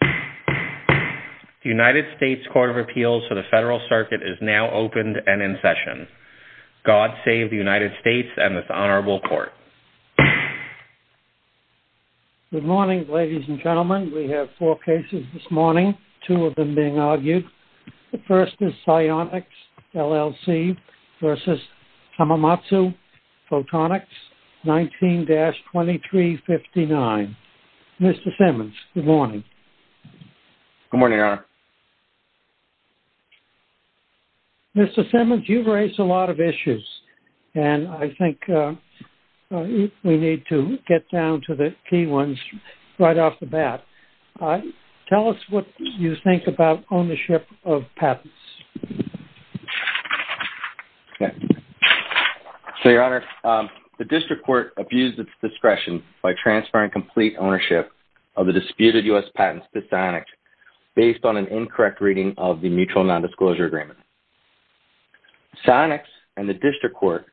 The United States Court of Appeals for the Federal Circuit is now opened and in session. God save the United States and this honorable court. Good morning ladies and gentlemen. We have four cases this morning, two of them being argued. The first is Sionyx LLC v. Hamamatsu Photonics, 19-2359. Mr. Simmons, good morning. Good morning, Your Honor. Mr. Simmons, you've raised a lot of issues and I think we need to get down to the key ones right off the bat. Tell us what you think about ownership of patents. So, Your Honor, the district court abused its discretion by transferring complete ownership of the disputed U.S. patents to Sionyx based on an incorrect reading of the mutual nondisclosure agreement. Sionyx and the district court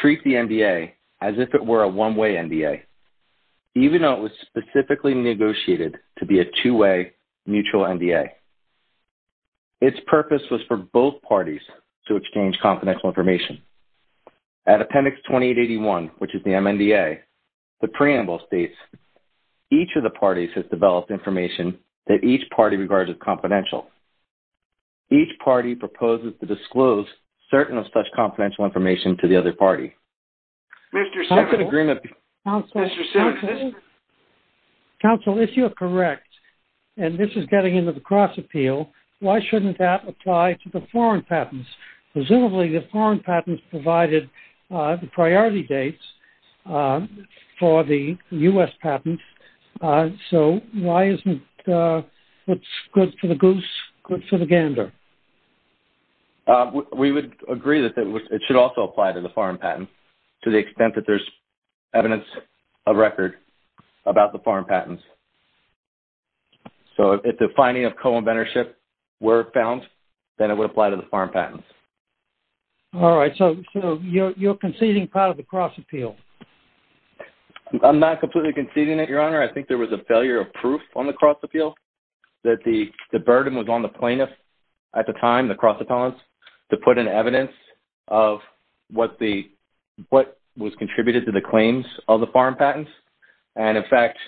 treat the NDA as if it were a one-way NDA, even though it was specifically negotiated to be a two-way mutual NDA. Its purpose was for both parties to exchange confidential information. At Appendix 2881, which is the MNDA, the preamble states, each of the parties has developed information that each party regards as confidential. Each party proposes to disclose certain of such confidential information to the other party. Mr. Simmons. Counsel, if you're correct, and this is getting into the cross-appeal, why shouldn't that apply to the foreign patents? Presumably, the foreign patents provided the priority dates for the U.S. patents, so why isn't it good for the goose, good for the gander? We would agree that it should also apply to the foreign patents to the extent that there's evidence of record about the foreign patents. So, if the finding of co-inventorship were found, then it would apply to the foreign patents. All right, so you're conceding part of the cross-appeal. I'm not completely conceding it, Your Honor. I think there was a failure of proof on the cross-appeal that the burden was on the plaintiffs at the time, the cross-appellants, to put in evidence of what was contributed to the claims of the foreign patents. And, in fact,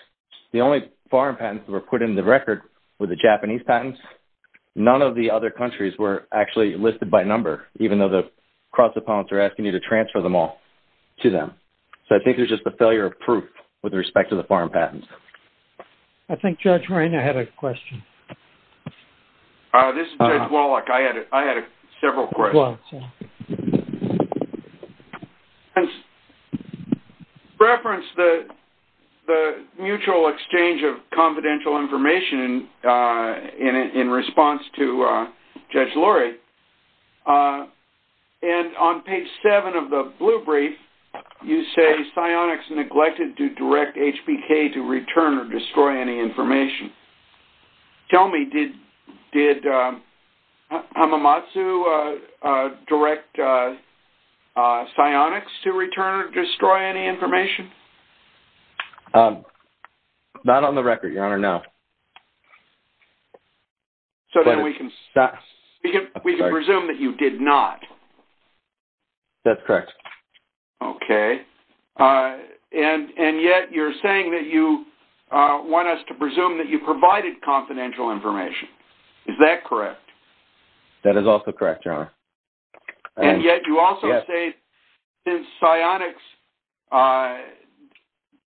the only foreign patents that were put in the record were the Japanese patents. None of the other countries were actually listed by number, even though the cross-appellants are asking you to transfer them all to them. So, I think there's just a failure of proof with respect to the foreign patents. I think Judge Moreno had a question. This is Judge Wallach. I had several questions. Go ahead. In reference to the mutual exchange of confidential information in response to Judge Lurie, and on page 7 of the blue brief, you say, Did Hamamatsu direct CYONIX to return or destroy any information? Tell me, did Hamamatsu direct CYONIX to return or destroy any information? Not on the record, Your Honor, no. So then we can presume that you did not. That's correct. Okay. And yet you're saying that you want us to presume that you provided confidential information. Is that correct? And yet you also say that if CYONIX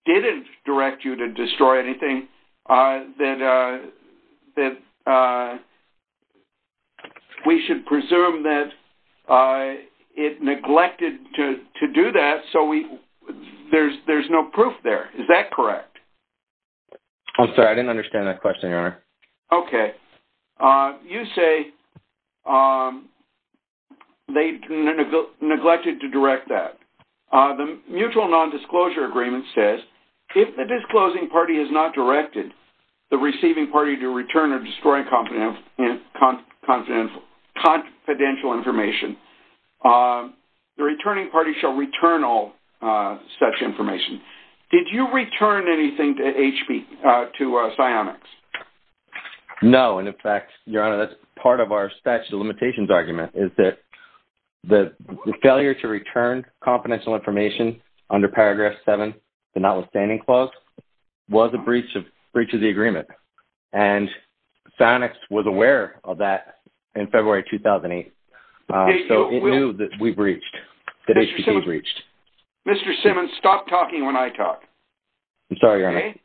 didn't direct you to destroy anything, that we should presume that it neglected to do that, so there's no proof there. Is that correct? I'm sorry, I didn't understand that question, Your Honor. Okay. You say they neglected to direct that. The mutual non-disclosure agreement says, If the disclosing party has not directed the receiving party to return or destroy confidential information, the returning party shall return all such information. Did you return anything to CYONIX? No, and in fact, Your Honor, that's part of our statute of limitations argument, is that the failure to return confidential information under paragraph 7, the notwithstanding clause, was a breach of the agreement. And CYONIX was aware of that in February 2008, so it knew that we breached, that HPT breached. Mr. Simmons, stop talking when I talk. I'm sorry, Your Honor. Okay.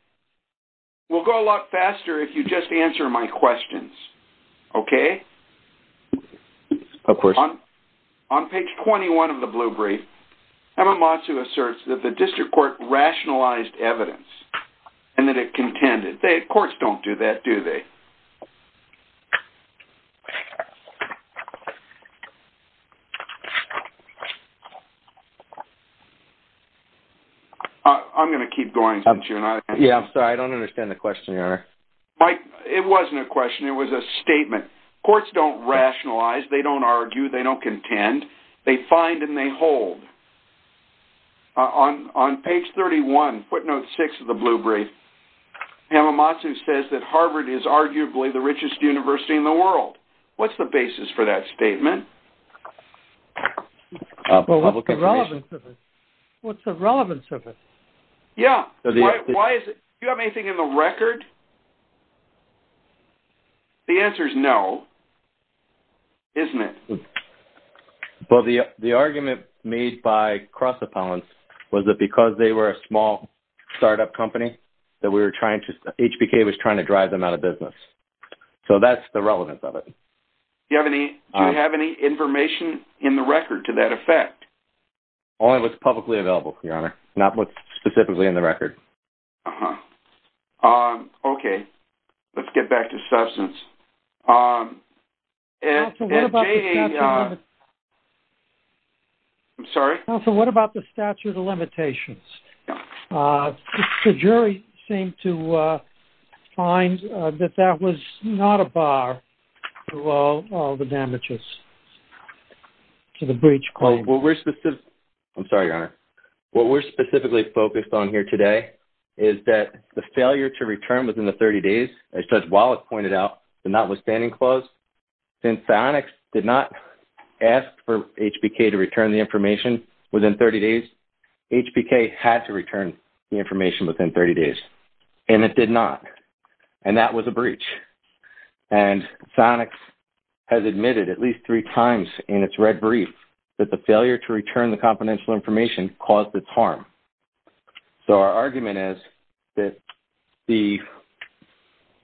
We'll go a lot faster if you just answer my questions. Okay? Of course. On page 21 of the blue brief, Hamamatsu asserts that the district court rationalized evidence and that it contended. They, of course, don't do that, do they? I'm going to keep going since you're not answering. Yeah, I'm sorry, I don't understand the question, Your Honor. Mike, it wasn't a question, it was a statement. Courts don't rationalize, they don't argue, they don't contend. They find and they hold. On page 31, footnote 6 of the blue brief, What's the basis for that statement? Well, what's the relevance of it? What's the relevance of it? Yeah, why is it? Do you have anything in the record? The answer is no, isn't it? Well, the argument made by cross-appellants was that because they were a small startup company, that we were trying to, HBK was trying to drive them out of business. So that's the relevance of it. Do you have any information in the record to that effect? Only what's publicly available, Your Honor. Not what's specifically in the record. Uh-huh. Okay, let's get back to substance. I'm sorry? Counsel, what about the statute of limitations? The jury seemed to find that that was not a bar to all the damages to the breach claim. I'm sorry, Your Honor. What we're specifically focused on here today is that the failure to return within the 30 days, as Judge Wallace pointed out, the notwithstanding clause, since Sionics did not ask for HBK to return the information within 30 days, HBK had to return the information within 30 days. And it did not. And that was a breach. And Sionics has admitted at least three times in its red brief that the failure to return the confidential information caused its harm. So our argument is that the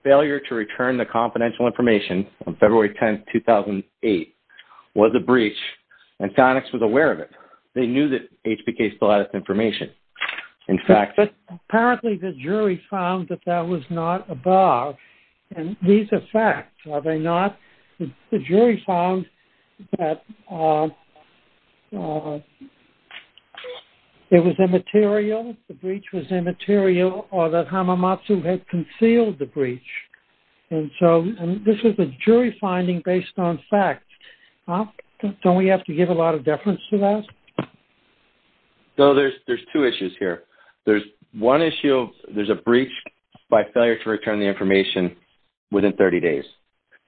failure to return the confidential information on February 10, 2008, was a breach, and Sionics was aware of it. They knew that HBK still had its information, in fact. But apparently the jury found that that was not a bar. And these are facts, are they not? The jury found that it was immaterial, the breach was immaterial, or that Hamamatsu had concealed the breach. And so this is a jury finding based on facts. Don't we have to give a lot of deference to that? So there's two issues here. There's one issue, there's a breach by failure to return the information within 30 days.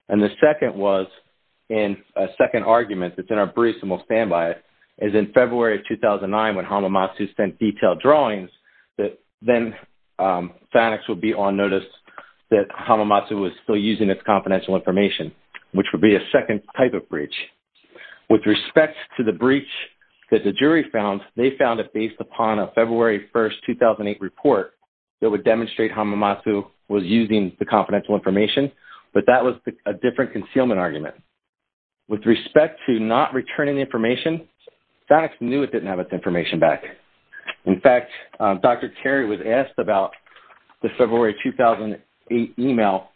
And the second was in a second argument that's in our briefs and we'll stand by it, is in February of 2009 when Hamamatsu sent detailed drawings, that then Sionics would be on notice that Hamamatsu was still using its confidential information, which would be a second type of breach. With respect to the breach that the jury found, they found it based upon a February 1, 2008 report that would demonstrate Hamamatsu was using the confidential information, but that was a different concealment argument. With respect to not returning the information, Sionics knew it didn't have its information back. In fact, Dr. Terry was asked about the February 2008 email,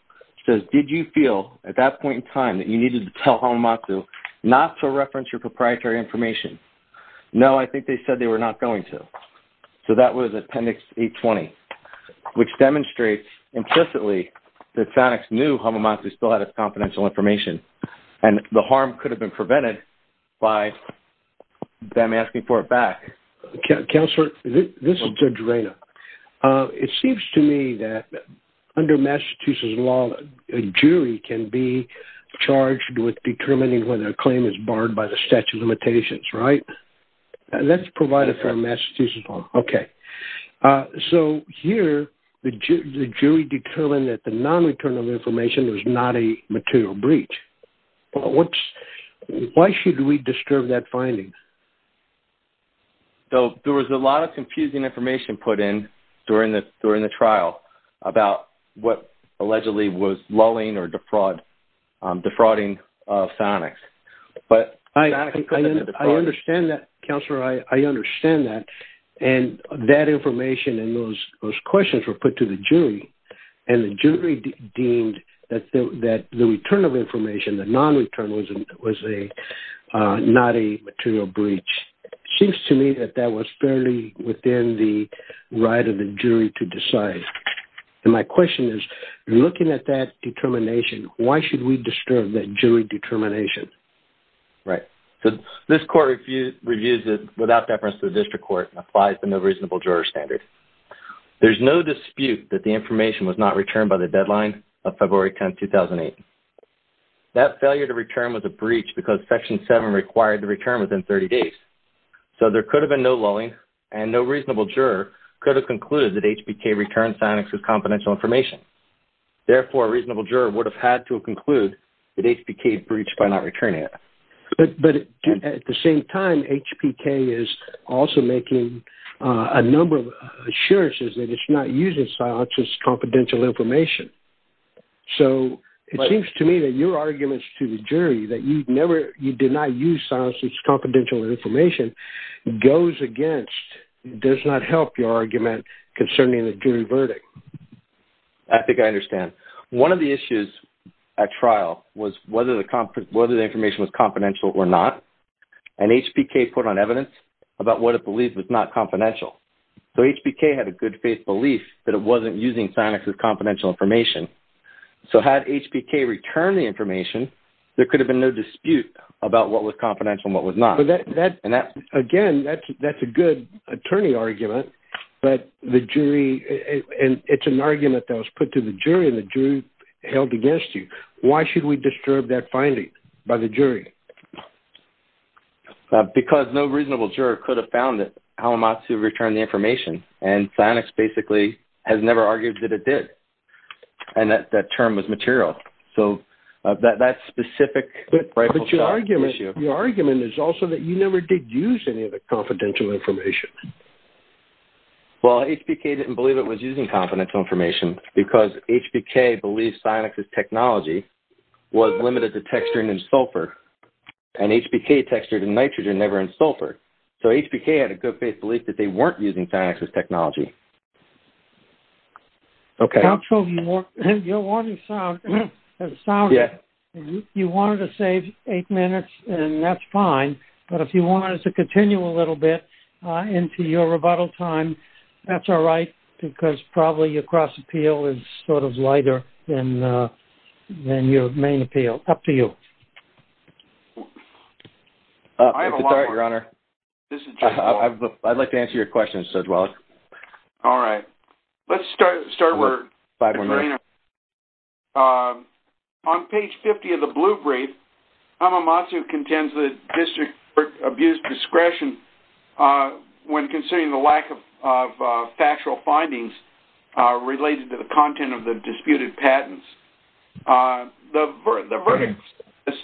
which says, did you feel at that point in time that you needed to tell Hamamatsu not to reference your proprietary information? No, I think they said they were not going to. So that was Appendix 820, which demonstrates implicitly that Sionics knew Hamamatsu still had its confidential information and the harm could have been prevented by them asking for it back. Counselor, this is Judge Reina. It seems to me that under Massachusetts law, a jury can be charged with determining whether a claim is barred by the statute of limitations, right? Let's provide a fair Massachusetts law. Okay. So here, the jury determined that the non-return of information was not a material breach. Why should we disturb that finding? There was a lot of confusing information put in during the trial about what allegedly was lulling or defrauding Sionics. I understand that, Counselor. I understand that. And that information and those questions were put to the jury. And the jury deemed that the return of information, the non-return, was not a material breach. It seems to me that that was fairly within the right of the jury to decide. And my question is, looking at that determination, why should we disturb that jury determination? Right. This Court reviews it without deference to the District Court and applies the No Reasonable Juror Standard. There's no dispute that the information was not returned by the deadline of February 10, 2008. That failure to return was a breach because Section 7 required the return within 30 days. So there could have been no lulling, and no reasonable juror could have concluded that HPK returned Sionics' confidential information. Therefore, a reasonable juror would have had to conclude that HPK had breached by not returning it. But at the same time, HPK is also making a number of assurances that it's not using Sionics' confidential information. So it seems to me that your arguments to the jury that you did not use Sionics' confidential information goes against, does not help your argument concerning the jury verdict. I think I understand. One of the issues at trial was whether the information was confidential or not, and HPK put on evidence about what it believed was not confidential. So HPK had a good faith belief that it wasn't using Sionics' confidential information. So had HPK returned the information, there could have been no dispute about what was confidential and what was not. Again, that's a good attorney argument, but it's an argument that was put to the jury, and the jury held against you. Why should we disturb that finding by the jury? Because no reasonable juror could have found that Alamatsu returned the information, and Sionics basically has never argued that it did, and that term was material. So that's a specific rifle shot issue. But your argument is also that you never did use any of the confidential information. Well, HPK didn't believe it was using confidential information because HPK believed Sionics' technology was limited to texturing and sulfur, and HPK textured in nitrogen, never in sulfur. So HPK had a good faith belief that they weren't using Sionics' technology. Okay. Counsel, you wanted to save eight minutes, and that's fine, but if you wanted to continue a little bit into your rebuttal time, that's all right, because probably your cross-appeal is sort of lighter than your main appeal. Up to you. I have a long one. Thank you, Your Honor. I'd like to answer your questions as well. All right. Let's start where we were. Five more minutes. On page 50 of the blue brief, Alamatsu contends that district abused discretion when considering the lack of factual findings related to the content of the disputed patents. The verdict is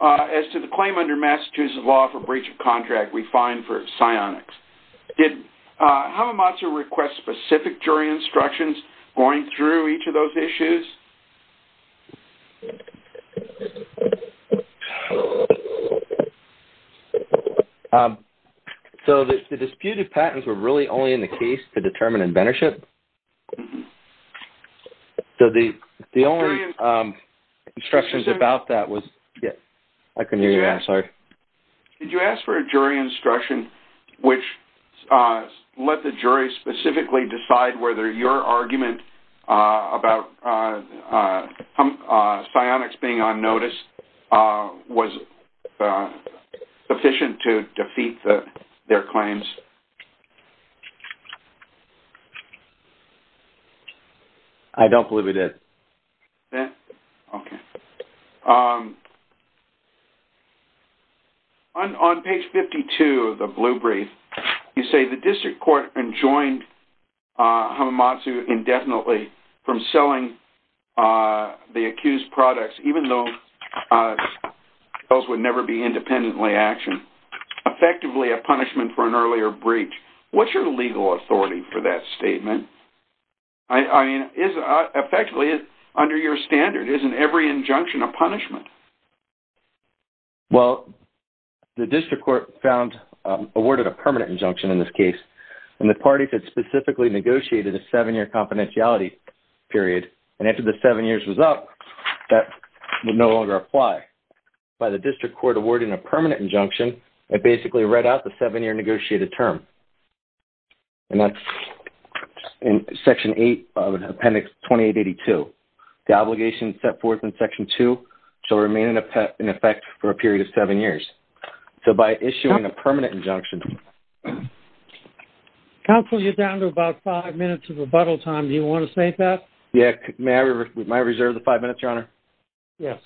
as to the claim under Massachusetts law for breach of contract we find for Sionics. Did Alamatsu request specific jury instructions going through each of those issues? So the disputed patents were really only in the case to determine inventorship? Mm-hmm. So the only instructions about that was... I couldn't hear you. Yeah, sorry. Did you ask for a jury instruction which let the jury specifically decide whether your argument about Sionics being on notice was sufficient to defeat their claims? I don't believe we did. Okay. On page 52 of the blue brief, you say the district court enjoined Alamatsu indefinitely from selling the accused products even though those would never be independently actioned, effectively a punishment for an earlier breach. What's your legal authority for that statement? I mean, effectively, under your standard, isn't every injunction a punishment? Well, the district court found... awarded a permanent injunction in this case and the parties had specifically negotiated a seven-year confidentiality period. And after the seven years was up, that would no longer apply. By the district court awarding a permanent injunction, it basically read out the seven-year negotiated term. And that's in Section 8 of Appendix 2882. The obligation set forth in Section 2 is to remain in effect for a period of seven years. So by issuing a permanent injunction... Counsel, you're down to about five minutes of rebuttal time. Do you want to save that? Yeah, may I reserve the five minutes, Your Honor? Yes.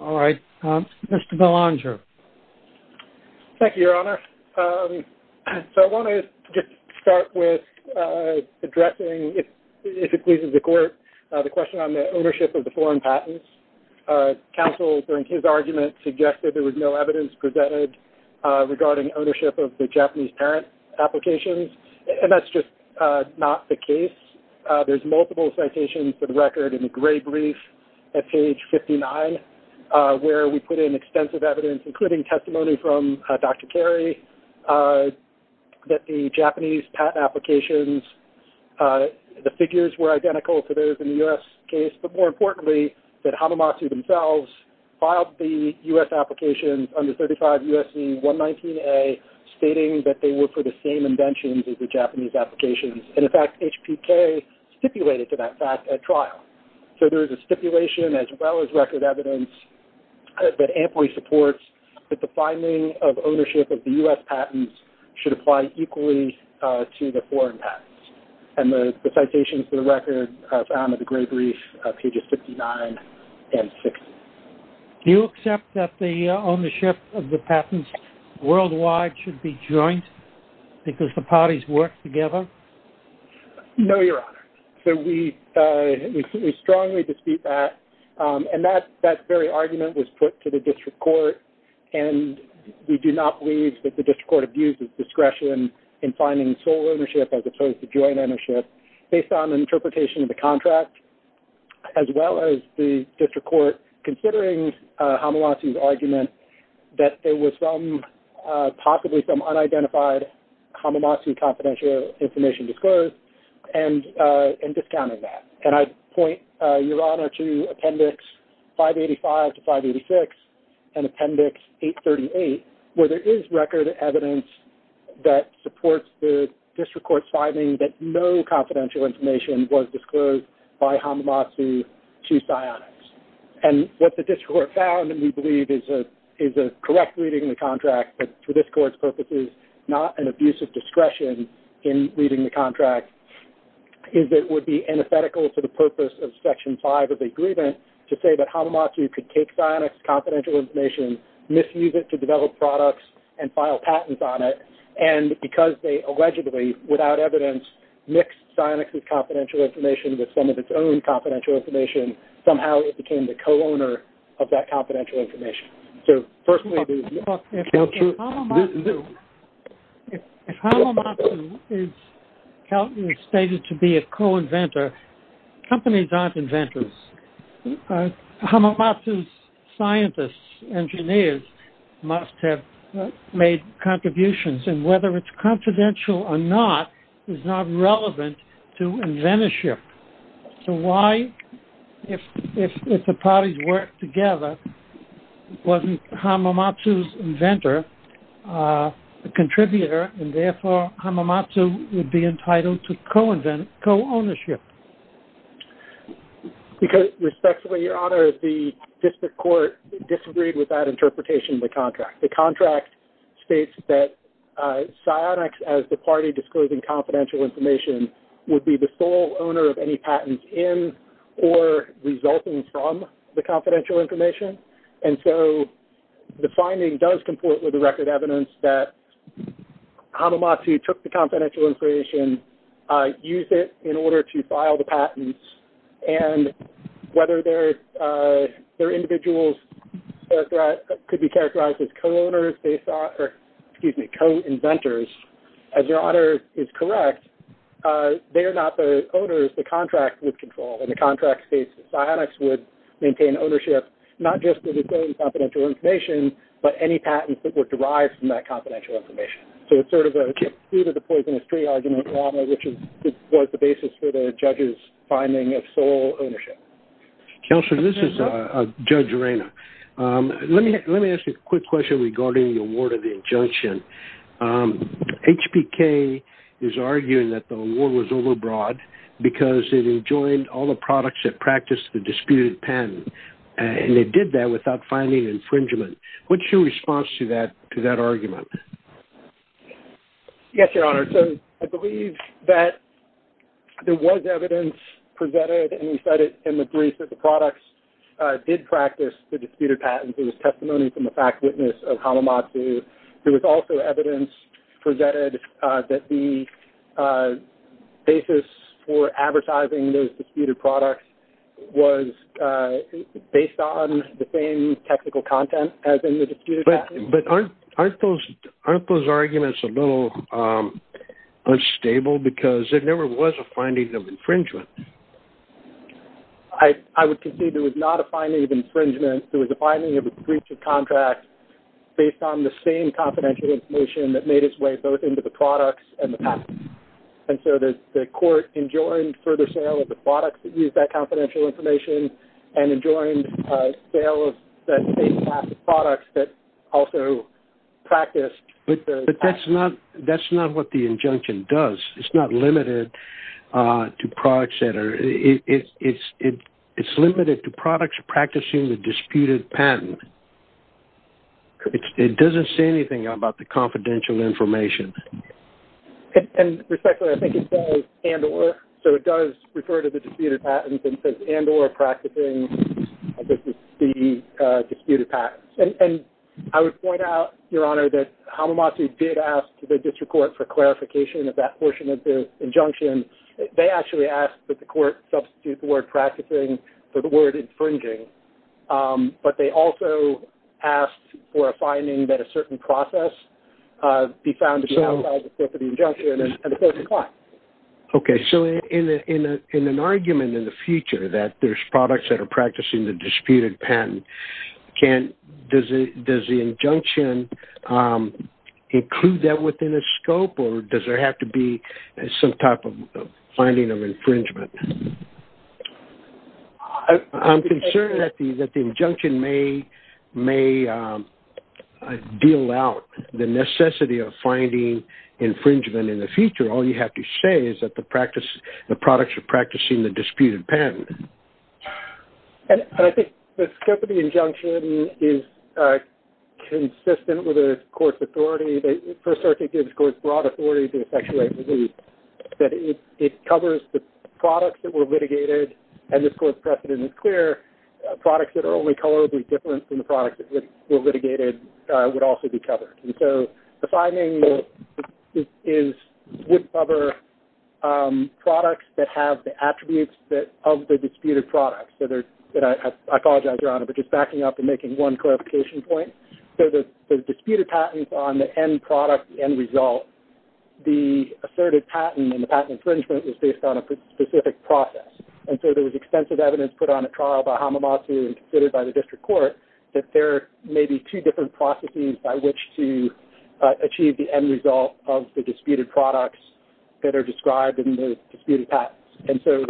All right. Mr. Belanger. Thank you, Your Honor. So I want to just start with addressing, if it pleases the court, the question on the ownership of the foreign patents. Counsel, during his argument, suggested there was no evidence presented regarding ownership of the Japanese parent applications. And that's just not the case. There's multiple citations for the record in a gray brief at page 59 where we put in extensive evidence, including testimony from Dr. Carey, that the Japanese patent applications, the figures were identical to those in the U.S. case. But more importantly, that Hamamatsu themselves filed the U.S. applications under 35 U.S.C. 119A, stating that they were for the same inventions as the Japanese applications. And in fact, HPK stipulated to that fact at trial. So there is a stipulation, as well as record evidence, that amply supports that the finding of ownership of the U.S. patents should apply equally to the foreign patents. And the citations for the record are found in the gray brief, pages 59 and 60. Do you accept that the ownership of the patents worldwide should be joint because the parties work together? No, Your Honor. So we strongly dispute that. And that very argument was put to the district court. And we do not believe that the district court abuses discretion in finding sole ownership as opposed to joint ownership based on interpretation of the contract, as well as the district court considering Hamamatsu's argument that there was some, possibly some unidentified Hamamatsu confidential information disclosed and discounting that. And I point, Your Honor, to Appendix 585 to 586 and Appendix 838, where there is record evidence that supports the district court's finding that no confidential information was disclosed by Hamamatsu to Psyonix. And what the district court found, and we believe is a correct reading of the contract, but for this court's purposes, not an abuse of discretion in reading the contract, is it would be antithetical to the purpose of Section 5 of the agreement to say that Hamamatsu could take Psyonix's confidential information, misuse it to develop products, and file patents on it, and because they allegedly, without evidence, mixed Psyonix's confidential information with some of its own confidential information, somehow it became the co-owner of that confidential information. So, firstly... If Hamamatsu is stated to be a co-inventor, companies aren't inventors. Hamamatsu's scientists, engineers, must have made contributions, and whether it's confidential or not is not relevant to inventorship. So why, if the parties work together, wasn't Hamamatsu's inventor a contributor, and therefore Hamamatsu would be entitled to co-ownership? Because, respectfully, Your Honor, the district court disagreed with that interpretation of the contract. The contract states that Psyonix, as the party disclosing confidential information, would be the sole owner of any patents in or resulting from the confidential information, and so the finding does comport with the record evidence that Hamamatsu took the confidential information, used it in order to file the patents, and whether their individuals could be characterized as co-inventors, as Your Honor is correct, they are not the owners. The contract would control, and the contract states that Psyonix would maintain ownership, not just to disclose confidential information, but any patents that were derived from that confidential information. So it's sort of a food-for-the-poisonous-tree argument, Your Honor, which was the basis for the judge's finding of sole ownership. Counselor, this is Judge Arena. Let me ask you a quick question regarding the award of the injunction. HPK is arguing that the award was overbroad because it enjoined all the products that practiced the disputed patent, and it did that without finding infringement. What's your response to that argument? Yes, Your Honor. So I believe that there was evidence presented, and you said it in the brief, that the products did practice the disputed patent. There was testimony from the fact witness of Hamamatsu. There was also evidence presented that the basis for advertising those disputed products was based on the same technical content as in the disputed patent. But aren't those arguments a little unstable? Because there never was a finding of infringement. I would concede there was not a finding of infringement. There was a finding of breach of contract based on the same confidential information that made its way both into the products and the patent. And so the court enjoined further sale of the products that used that confidential information and enjoined sale of the same class of products that also practiced the patent. But that's not what the injunction does. It's not limited to product center. It's limited to products practicing the disputed patent. It doesn't say anything about the confidential information. And respectfully, I think it does and or. So it does refer to the disputed patent and says and or practicing the disputed patent. And I would point out, Your Honor, that Hamamatsu did ask the district court for clarification of that portion of the injunction. They actually asked that the court substitute the word practicing for the word infringing. But they also asked for a finding that a certain process be found to be outside the scope of the injunction and the court declined. Okay. So in an argument in the future that there's products that are practicing the disputed patent, does the injunction include that within a scope or does there have to be some type of finding of infringement? I'm concerned that the injunction may deal out the necessity of finding infringement in the future. What I'm trying to say is that the products are practicing the disputed patent. And I think the scope of the injunction is consistent with the court's authority. The First Circuit gives the court broad authority to effectuate relief. It covers the products that were litigated and the court's precedent is clear. Products that are only colorably different from the products that were litigated would also be covered. And so the finding is that there are two different products that have the attributes of the disputed products. I apologize, Your Honor, for just backing up and making one clarification point. So the disputed patents on the end product, the end result, the asserted patent and the patent infringement was based on a specific process. And so there was extensive evidence put on a trial by Hamamatsu and considered by the district court that there was no evidence described in the disputed patents. And so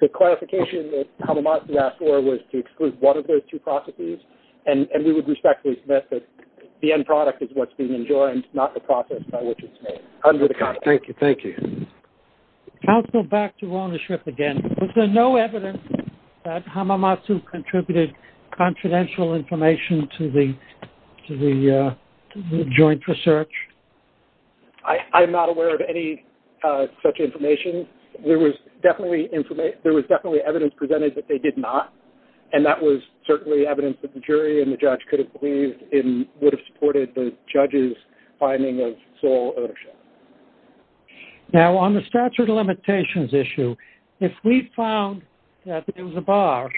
the clarification that Hamamatsu asked for was to exclude one of those two processes. And we would respectfully submit that the end product is what's being enjoined, not the process by which it's made. Thank you. Thank you. Counsel, back to Rona Schripp again. Was there no evidence that Hamamatsu contributed confidential information to the joint research? I'm not aware of any such information. There was definitely evidence presented that they did not. And that was certainly evidence that the jury and the judge could have believed in would have supported the judge's finding of sole ownership. Now, on the statute of limitations issue, if we found that there was a bar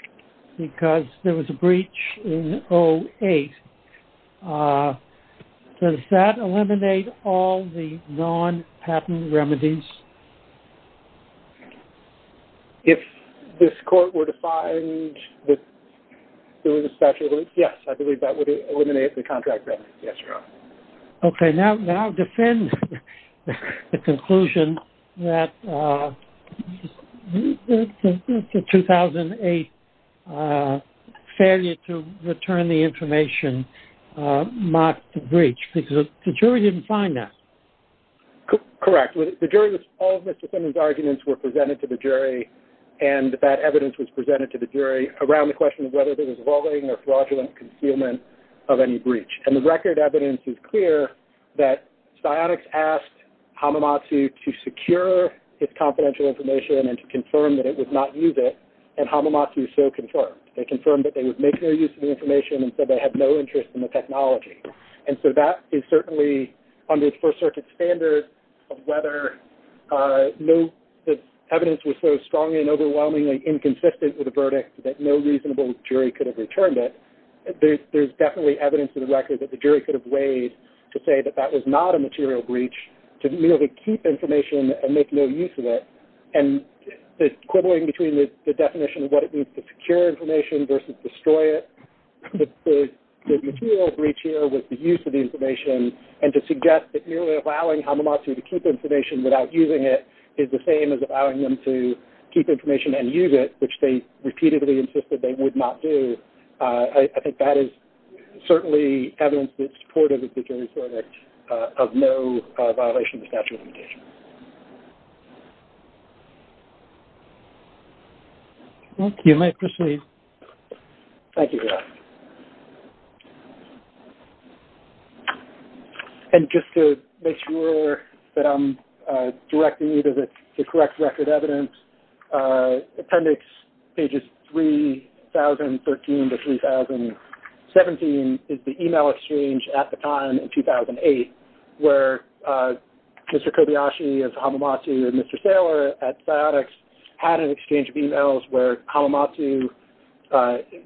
because there was a breach in 08, does that eliminate all the non-patent remedies? If this court were to find that there was a statute of limitations, yes, I believe that would eliminate the contract remedies. Yes, Your Honor. Okay. Now defend the conclusion that the 2008 failure to return the information marked the breach because the jury didn't find that? Correct. All of Mr. Simmons' arguments were presented to the jury, and that evidence was presented to the jury around the question of whether there was a wrong or fraudulent concealment of any breach. And the record evidence is clear that Psyonix asked Hamamatsu to secure its confidential information and to confirm that it would not use it, and Hamamatsu so confirmed. They confirmed that they would make no use of the information and said they had no interest in the technology. And so that is certainly under the First Circuit standards of whether the evidence was so strong and overwhelmingly inconsistent with the verdict that no reasonable jury could have returned it. There's definitely evidence in the record that the jury could have weighed to say that that was not a material breach to merely keep information and to suggest that the material breach here was the use of the information and to suggest that merely allowing Hamamatsu to keep information without using it is the same as allowing them to keep information and use it, which they repeatedly insisted they would not do. I think that is certainly evidence that's supportive of the jury's verdict of no violation of the statute of limitations. You may proceed. Thank you. And just to make sure that I'm directing you to the correct record evidence, appendix pages 3013 to 3017 is the email exchange at the time in 2008 where Mr. Kobayashi of Hamamatsu and Mr. Saylor at Psyotics had an exchange of emails where Hamamatsu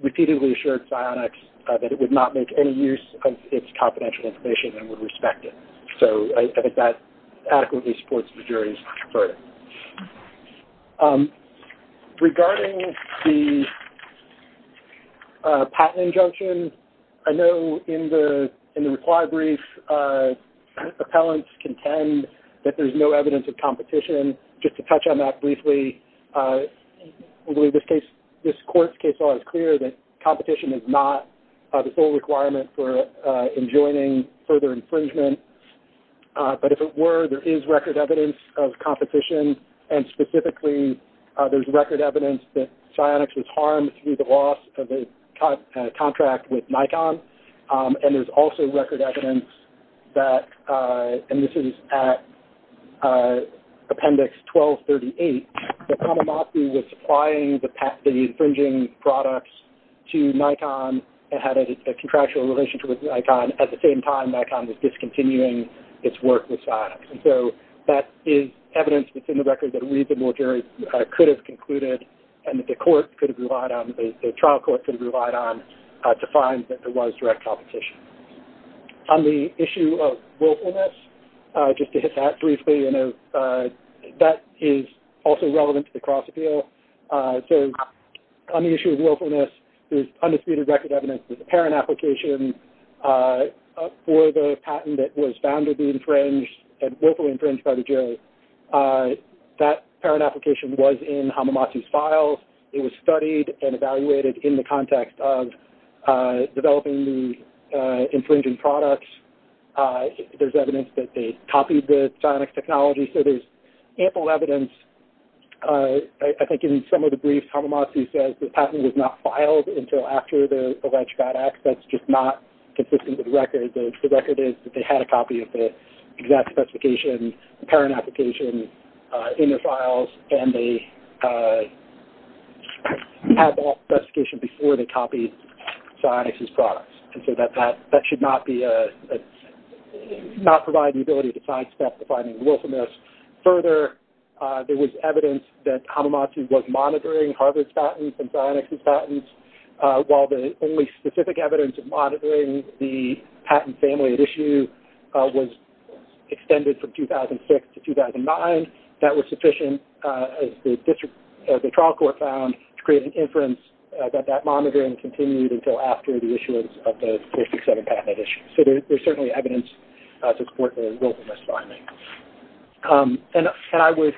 repeatedly assured Psyotics that it would not make any use of its confidential information and would respect it. So I think that adequately supports the jury's verdict. Regarding the patent injunction, I know in the required brief, appellants contend that there's no evidence of competition. Just to touch on that briefly, I believe this court's case law is clear that competition is not the full requirement for enjoining further infringement. But if it were, there is record evidence of competition, and specifically there's record evidence that Psyotics was harmed through the loss of a contract with Nikon, and there's also record evidence that, and this is at appendix 1238, that Hamamatsu was supplying the infringing products to Nikon and had a contractual relationship with Nikon. At the same time, Nikon was discontinuing its work with Psyotics. And so that is evidence within the record that a reasonable jury could have concluded and that the court could have relied on, the trial court could have relied on to find that there was direct competition. On the issue of willfulness, just to hit that briefly, that is also relevant to the cross-appeal. So on the issue of willfulness, there's undisputed record evidence that the parent application for the patent that was found to be infringed and willfully infringed by the jury, that parent application was in Hamamatsu's files. It was studied and evaluated in the context of developing the infringing products. There's evidence that they copied the Psyonix technology. So there's ample evidence. I think in some of the briefs, Hamamatsu says the patent was not filed until after the alleged bad acts. That's just not consistent with the record. The record is that they had a copy of the exact specification, the parent application in their files, and they had that specification before they copied Psyonix's products. And so that should not provide the ability to sidestep the finding of willfulness. Further, there was evidence that Hamamatsu was monitoring Harvard's patents and Psyonix's patents. While the only specific evidence of monitoring the patent family at issue was extended from 2006 to 2009, that was sufficient, as the trial court found, to create an inference that that monitoring continued until after the issuance of the 467 patent at issue. So there's certainly evidence to support the willfulness finding. And I would,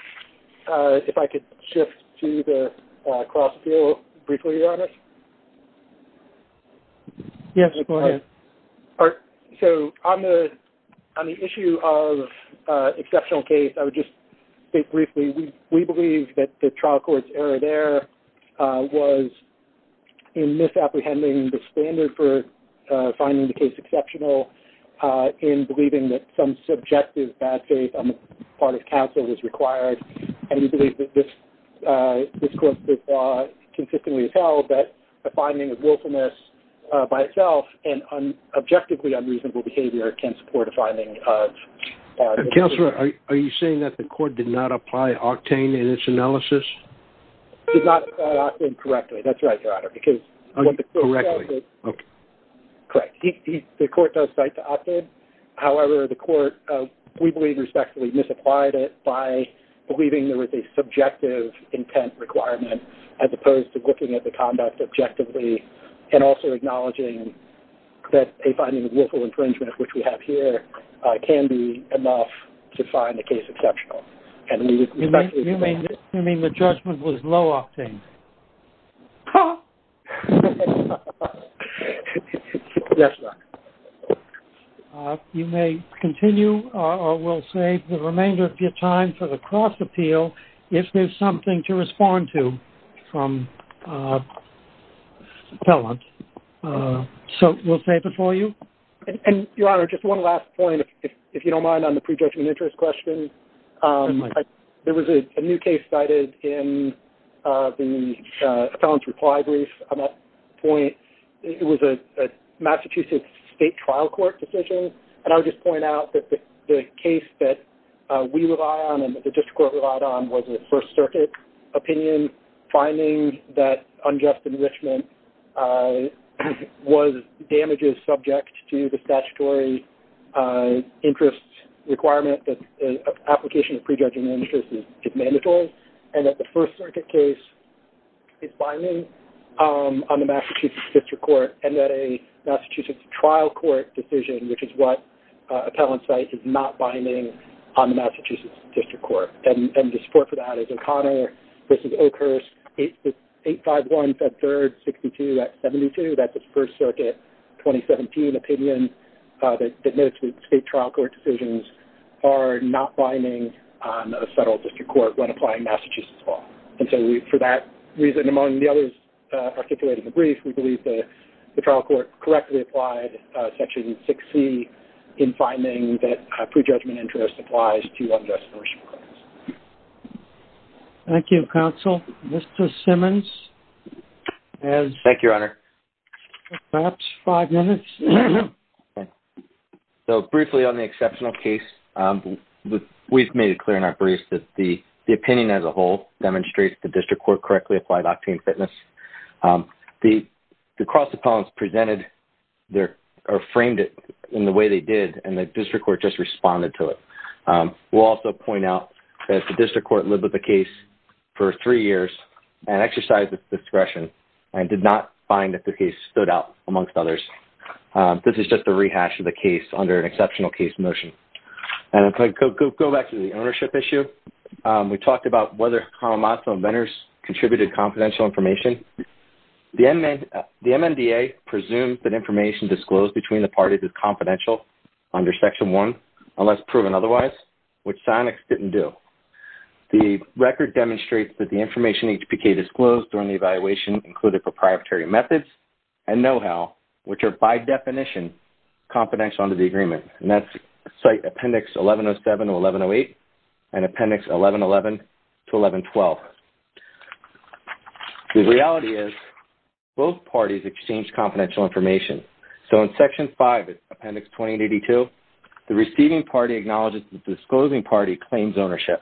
if I could shift to the cross-appeal briefly on this. Yes, go ahead. So on the issue of exceptional case, I would just state briefly, we believe that the trial court's error there was in misapprehending the standard of finding the case exceptional in believing that some subjective bad faith on the part of counsel was required. And we believe that this court's law consistently has held that a finding of willfulness by itself and objectively unreasonable behavior can support a finding of... Counselor, are you saying that the court did not apply octane in its analysis? Did not apply octane correctly. That's right, Your Honor, correct. The court does cite the octane. However, the court, we believe, respectfully, misapplied it by believing there was a subjective intent requirement as opposed to looking at the conduct objectively and also acknowledging that a finding of willful infringement, which we have here, can be enough to find a case exceptional. You mean the judgment was low octane? Ha! Yes, Your Honor. You may continue or we'll save the remainder of your time for the cross appeal if there's something to respond to from appellant. So we'll save it for you. And, Your Honor, just one last point, if you don't mind, on the prejudgment interest question. There was a new case cited in the appellant's reply brief on that point. It was a Massachusetts State Trial Court decision. And I would just point out that the case that we rely on and that the district court relied on was a First Circuit opinion finding that unjust enrichment was damages subject to the statutory interest requirement that an application of prejudgment interest is mandatory and that the First Circuit case is binding on the Massachusetts District Court and that a Massachusetts Trial Court decision, which is what appellant cites, is not binding on the Massachusetts District Court. And the support for that is O'Connor v. Oakhurst, 851, Fed Third, 62, Act 72. That's a First Circuit 2017 opinion that notes that state trial court decisions are not binding on a federal district court when applying Massachusetts law. And for that reason, among the others articulated in the brief, we believe the trial court correctly applied Section 6C in finding that prejudgment interest applies to unjust enrichment claims. Thank you, counsel. Mr. Simmons? Thank you, Your Honor. Perhaps five minutes? Okay. So, briefly on the exceptional case, we've made it clear in our brief that the opinion as a whole demonstrates the district court correctly applied octane fitness. The cross appellants presented or framed it in the way they did and the district court just responded to it. We'll also point out that the district court lived with the case for three years and exercised its discretion and did not find that the case stood out amongst others. This is just a rehash of the case under an exceptional case motion. Go back to the ownership issue. Under Section 1, the Alamazo inventors contributed confidential information. The MNDA presumes that information disclosed between the parties is confidential under Section 1, unless proven otherwise, which Sionex didn't do. The record demonstrates that the information HPK disclosed during the evaluation included proprietary methods and know-how, which are by definition confidential as well. The reality is both parties exchanged confidential information. In Section 5 of Appendix 2082, the receiving party acknowledges the disclosing party claims ownership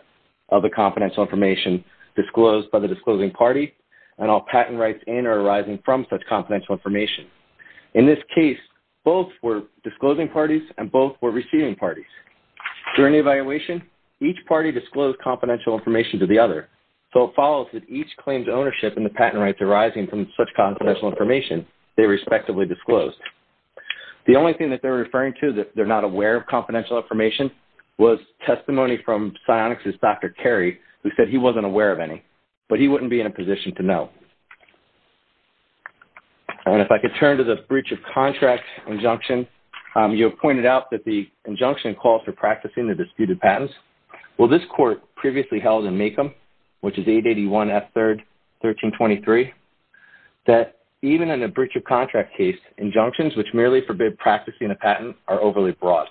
of the confidential information disclosed by the disclosing party and all patent rights in or arising from such confidential information. In this case, both were disclosing parties and both were receiving parties. During the evaluation, it follows that each claims ownership in the patent rights arising from such confidential information they respectively disclosed. The only thing that they're referring to is that they're not aware of confidential information was testimony from Sionex's Dr. Carey who said he wasn't aware of any, but he wouldn't be in a position to know. If I could turn to the breach of contract injunction, you have pointed out that the injunction calls for practicing the disputed patents. This is page 881, S3, 1323, that even in a breach of contract case, injunctions which merely forbid practicing a patent are overly broad.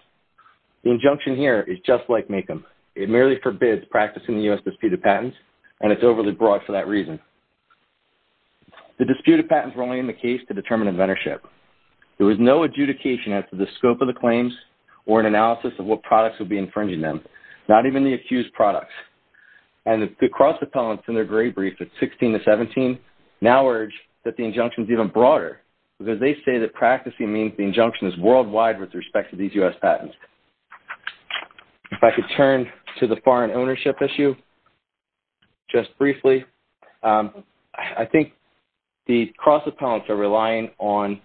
The injunction here is just like Maycomb. It merely forbids practicing the U.S. disputed patents, and it's overly broad for that reason. The disputed patents were only in the case to determine inventorship. There was no adjudication as to the scope of the claims or an analysis of what products would be infringing them, and the cross-appellants in their gray brief at 16 to 17 now urge that the injunction is even broader because they say that practicing means the injunction is worldwide with respect to these U.S. patents. If I could turn to the foreign ownership issue just briefly, I think the cross-appellants are relying on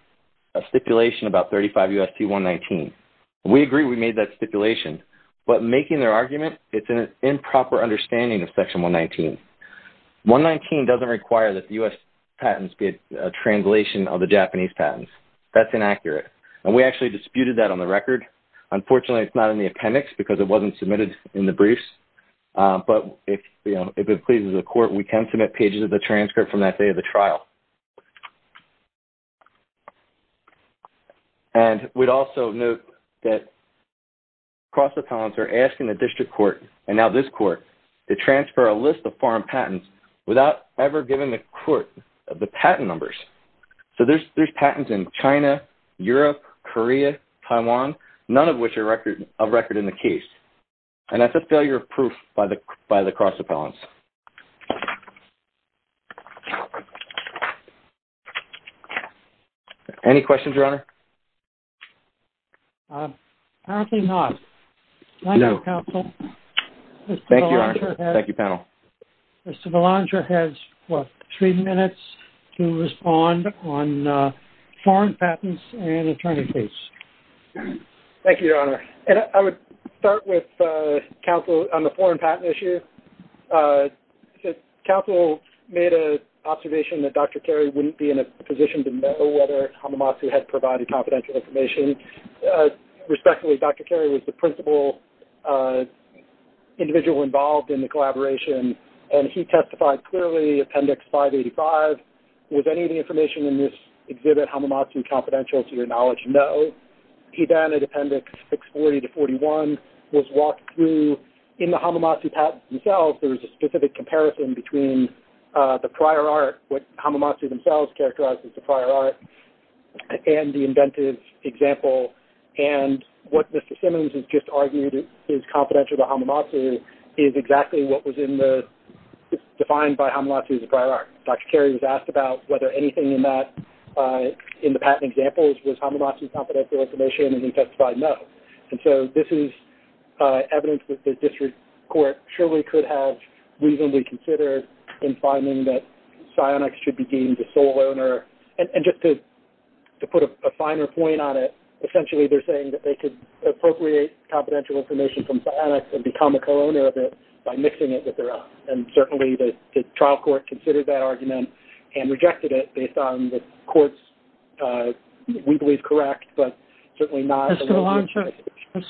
a stipulation about 35 U.S.C. 119. We agree we made that stipulation, but making their argument, it's an improper understanding because 119 doesn't require that the U.S. patents be a translation of the Japanese patents. That's inaccurate, and we actually disputed that on the record. Unfortunately, it's not in the appendix because it wasn't submitted in the briefs, but if it pleases the court, we can submit pages of the transcript from that day of the trial. And we'd also note that cross-appellants are asking the district court, and now this court, to review the U.S. patents without ever giving the court the patent numbers. So there's patents in China, Europe, Korea, Taiwan, none of which are of record in the case, and that's a failure of proof by the cross-appellants. Any questions, Your Honor? Apparently not. No. Thank you, counsel. Thank you, Your Honor. Thank you, panel. Mr. Belanger has, what, three minutes to respond on foreign patents and attorneys. Thank you, Your Honor. And I would start with counsel on the foreign patent issue. Counsel made an observation that Dr. Carey wouldn't be in a position to know whether Hamamatsu had provided confidential information. He was an individual involved in the collaboration, and he testified clearly, Appendix 585, was any of the information in this exhibit Hamamatsu confidential to your knowledge? No. He then, at Appendix 640-41, was walked through. In the Hamamatsu patents themselves, there was a specific comparison between the prior art, what Hamamatsu themselves characterized as the prior art, and the inventive example. The fact that the patent was confidential to Hamamatsu is exactly what was in the, defined by Hamamatsu's prior art. Dr. Carey was asked about whether anything in that, in the patent examples, was Hamamatsu confidential information, and he testified no. And so this is evidence that the district court surely could have reasonably considered in finding that psionics should be deemed the sole owner. They could have considered psionics and become a co-owner of it by mixing it with their own. And certainly the trial court considered that argument and rejected it based on the court's, we believe, correct, but certainly not... Mr.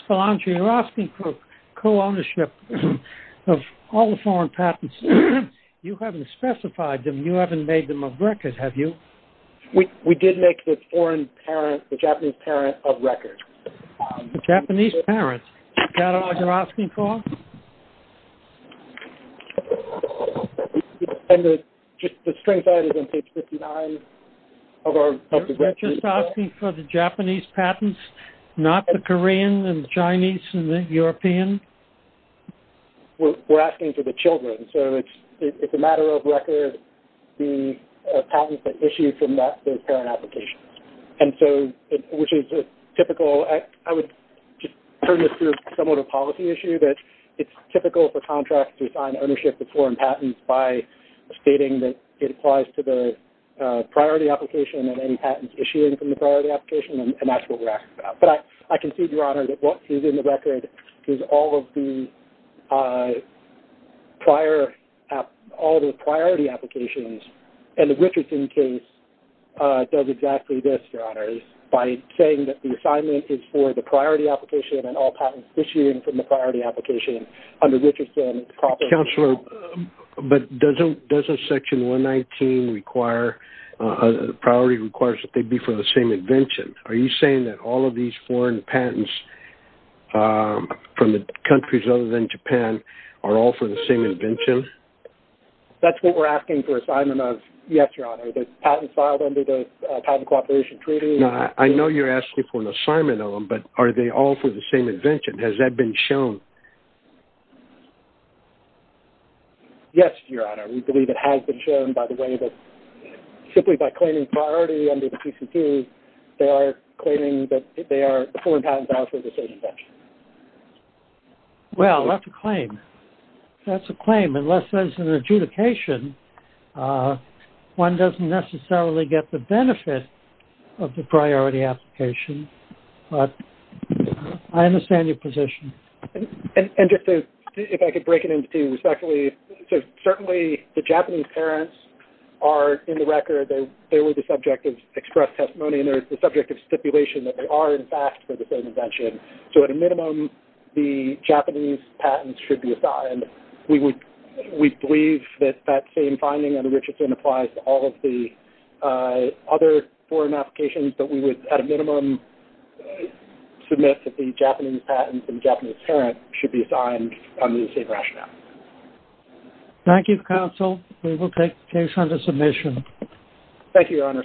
Belanchier, you're asking for co-ownership of all the foreign patents. You haven't specified them. You haven't made them a record, have you? We did make the foreign parent, and that's what we're asking for. And the, just the string side is on page 59 of our... You're just asking for the Japanese patents, not the Korean and Chinese and the European? We're asking for the children, so it's a matter of record the patents that issued from those parent applications. And so, which is typical, I would just turn this to you that it's typical for contracts to assign ownership to foreign patents by stating that it applies to the priority application and any patents issuing from the priority application, and that's what we're asking about. But I can see, Your Honor, that what is in the record is all of the prior, all the priority applications. And the Richardson case does exactly this, Your Honors, by saying that the assignment is for the priority application under Richardson... Counselor, but doesn't, doesn't Section 119 require, priority requires that they be for the same invention? Are you saying that all of these foreign patents from the countries other than Japan are all for the same invention? That's what we're asking for assignment of, yes, Your Honor. There's patents filed under the Patent Cooperation Treaty. I know you're asking for an assignment of them, but are they all for the same invention? Has that been shown? Yes, Your Honor. We believe it has been shown by the way that, simply by claiming priority under the PCT, they are claiming that they are foreign patents are for the same invention. Well, that's a claim. That's a claim. Unless there's an adjudication, one doesn't necessarily get the benefit of the priority application. I understand your position. And just to, if I could break it into two respectfully, so certainly the Japanese parents are in the record, they were the subject of express testimony and they're the subject of stipulation that they are in fact for the same invention. So at a minimum, the Japanese patents should be assigned. We would, we believe that that same finding under Richardson applies to all of the other foreign applications, but we would at a minimum believe that the Japanese patents and Japanese parents should be assigned under the same rationale. Thank you, counsel. We will take the case under submission. Thank you, Your Honor.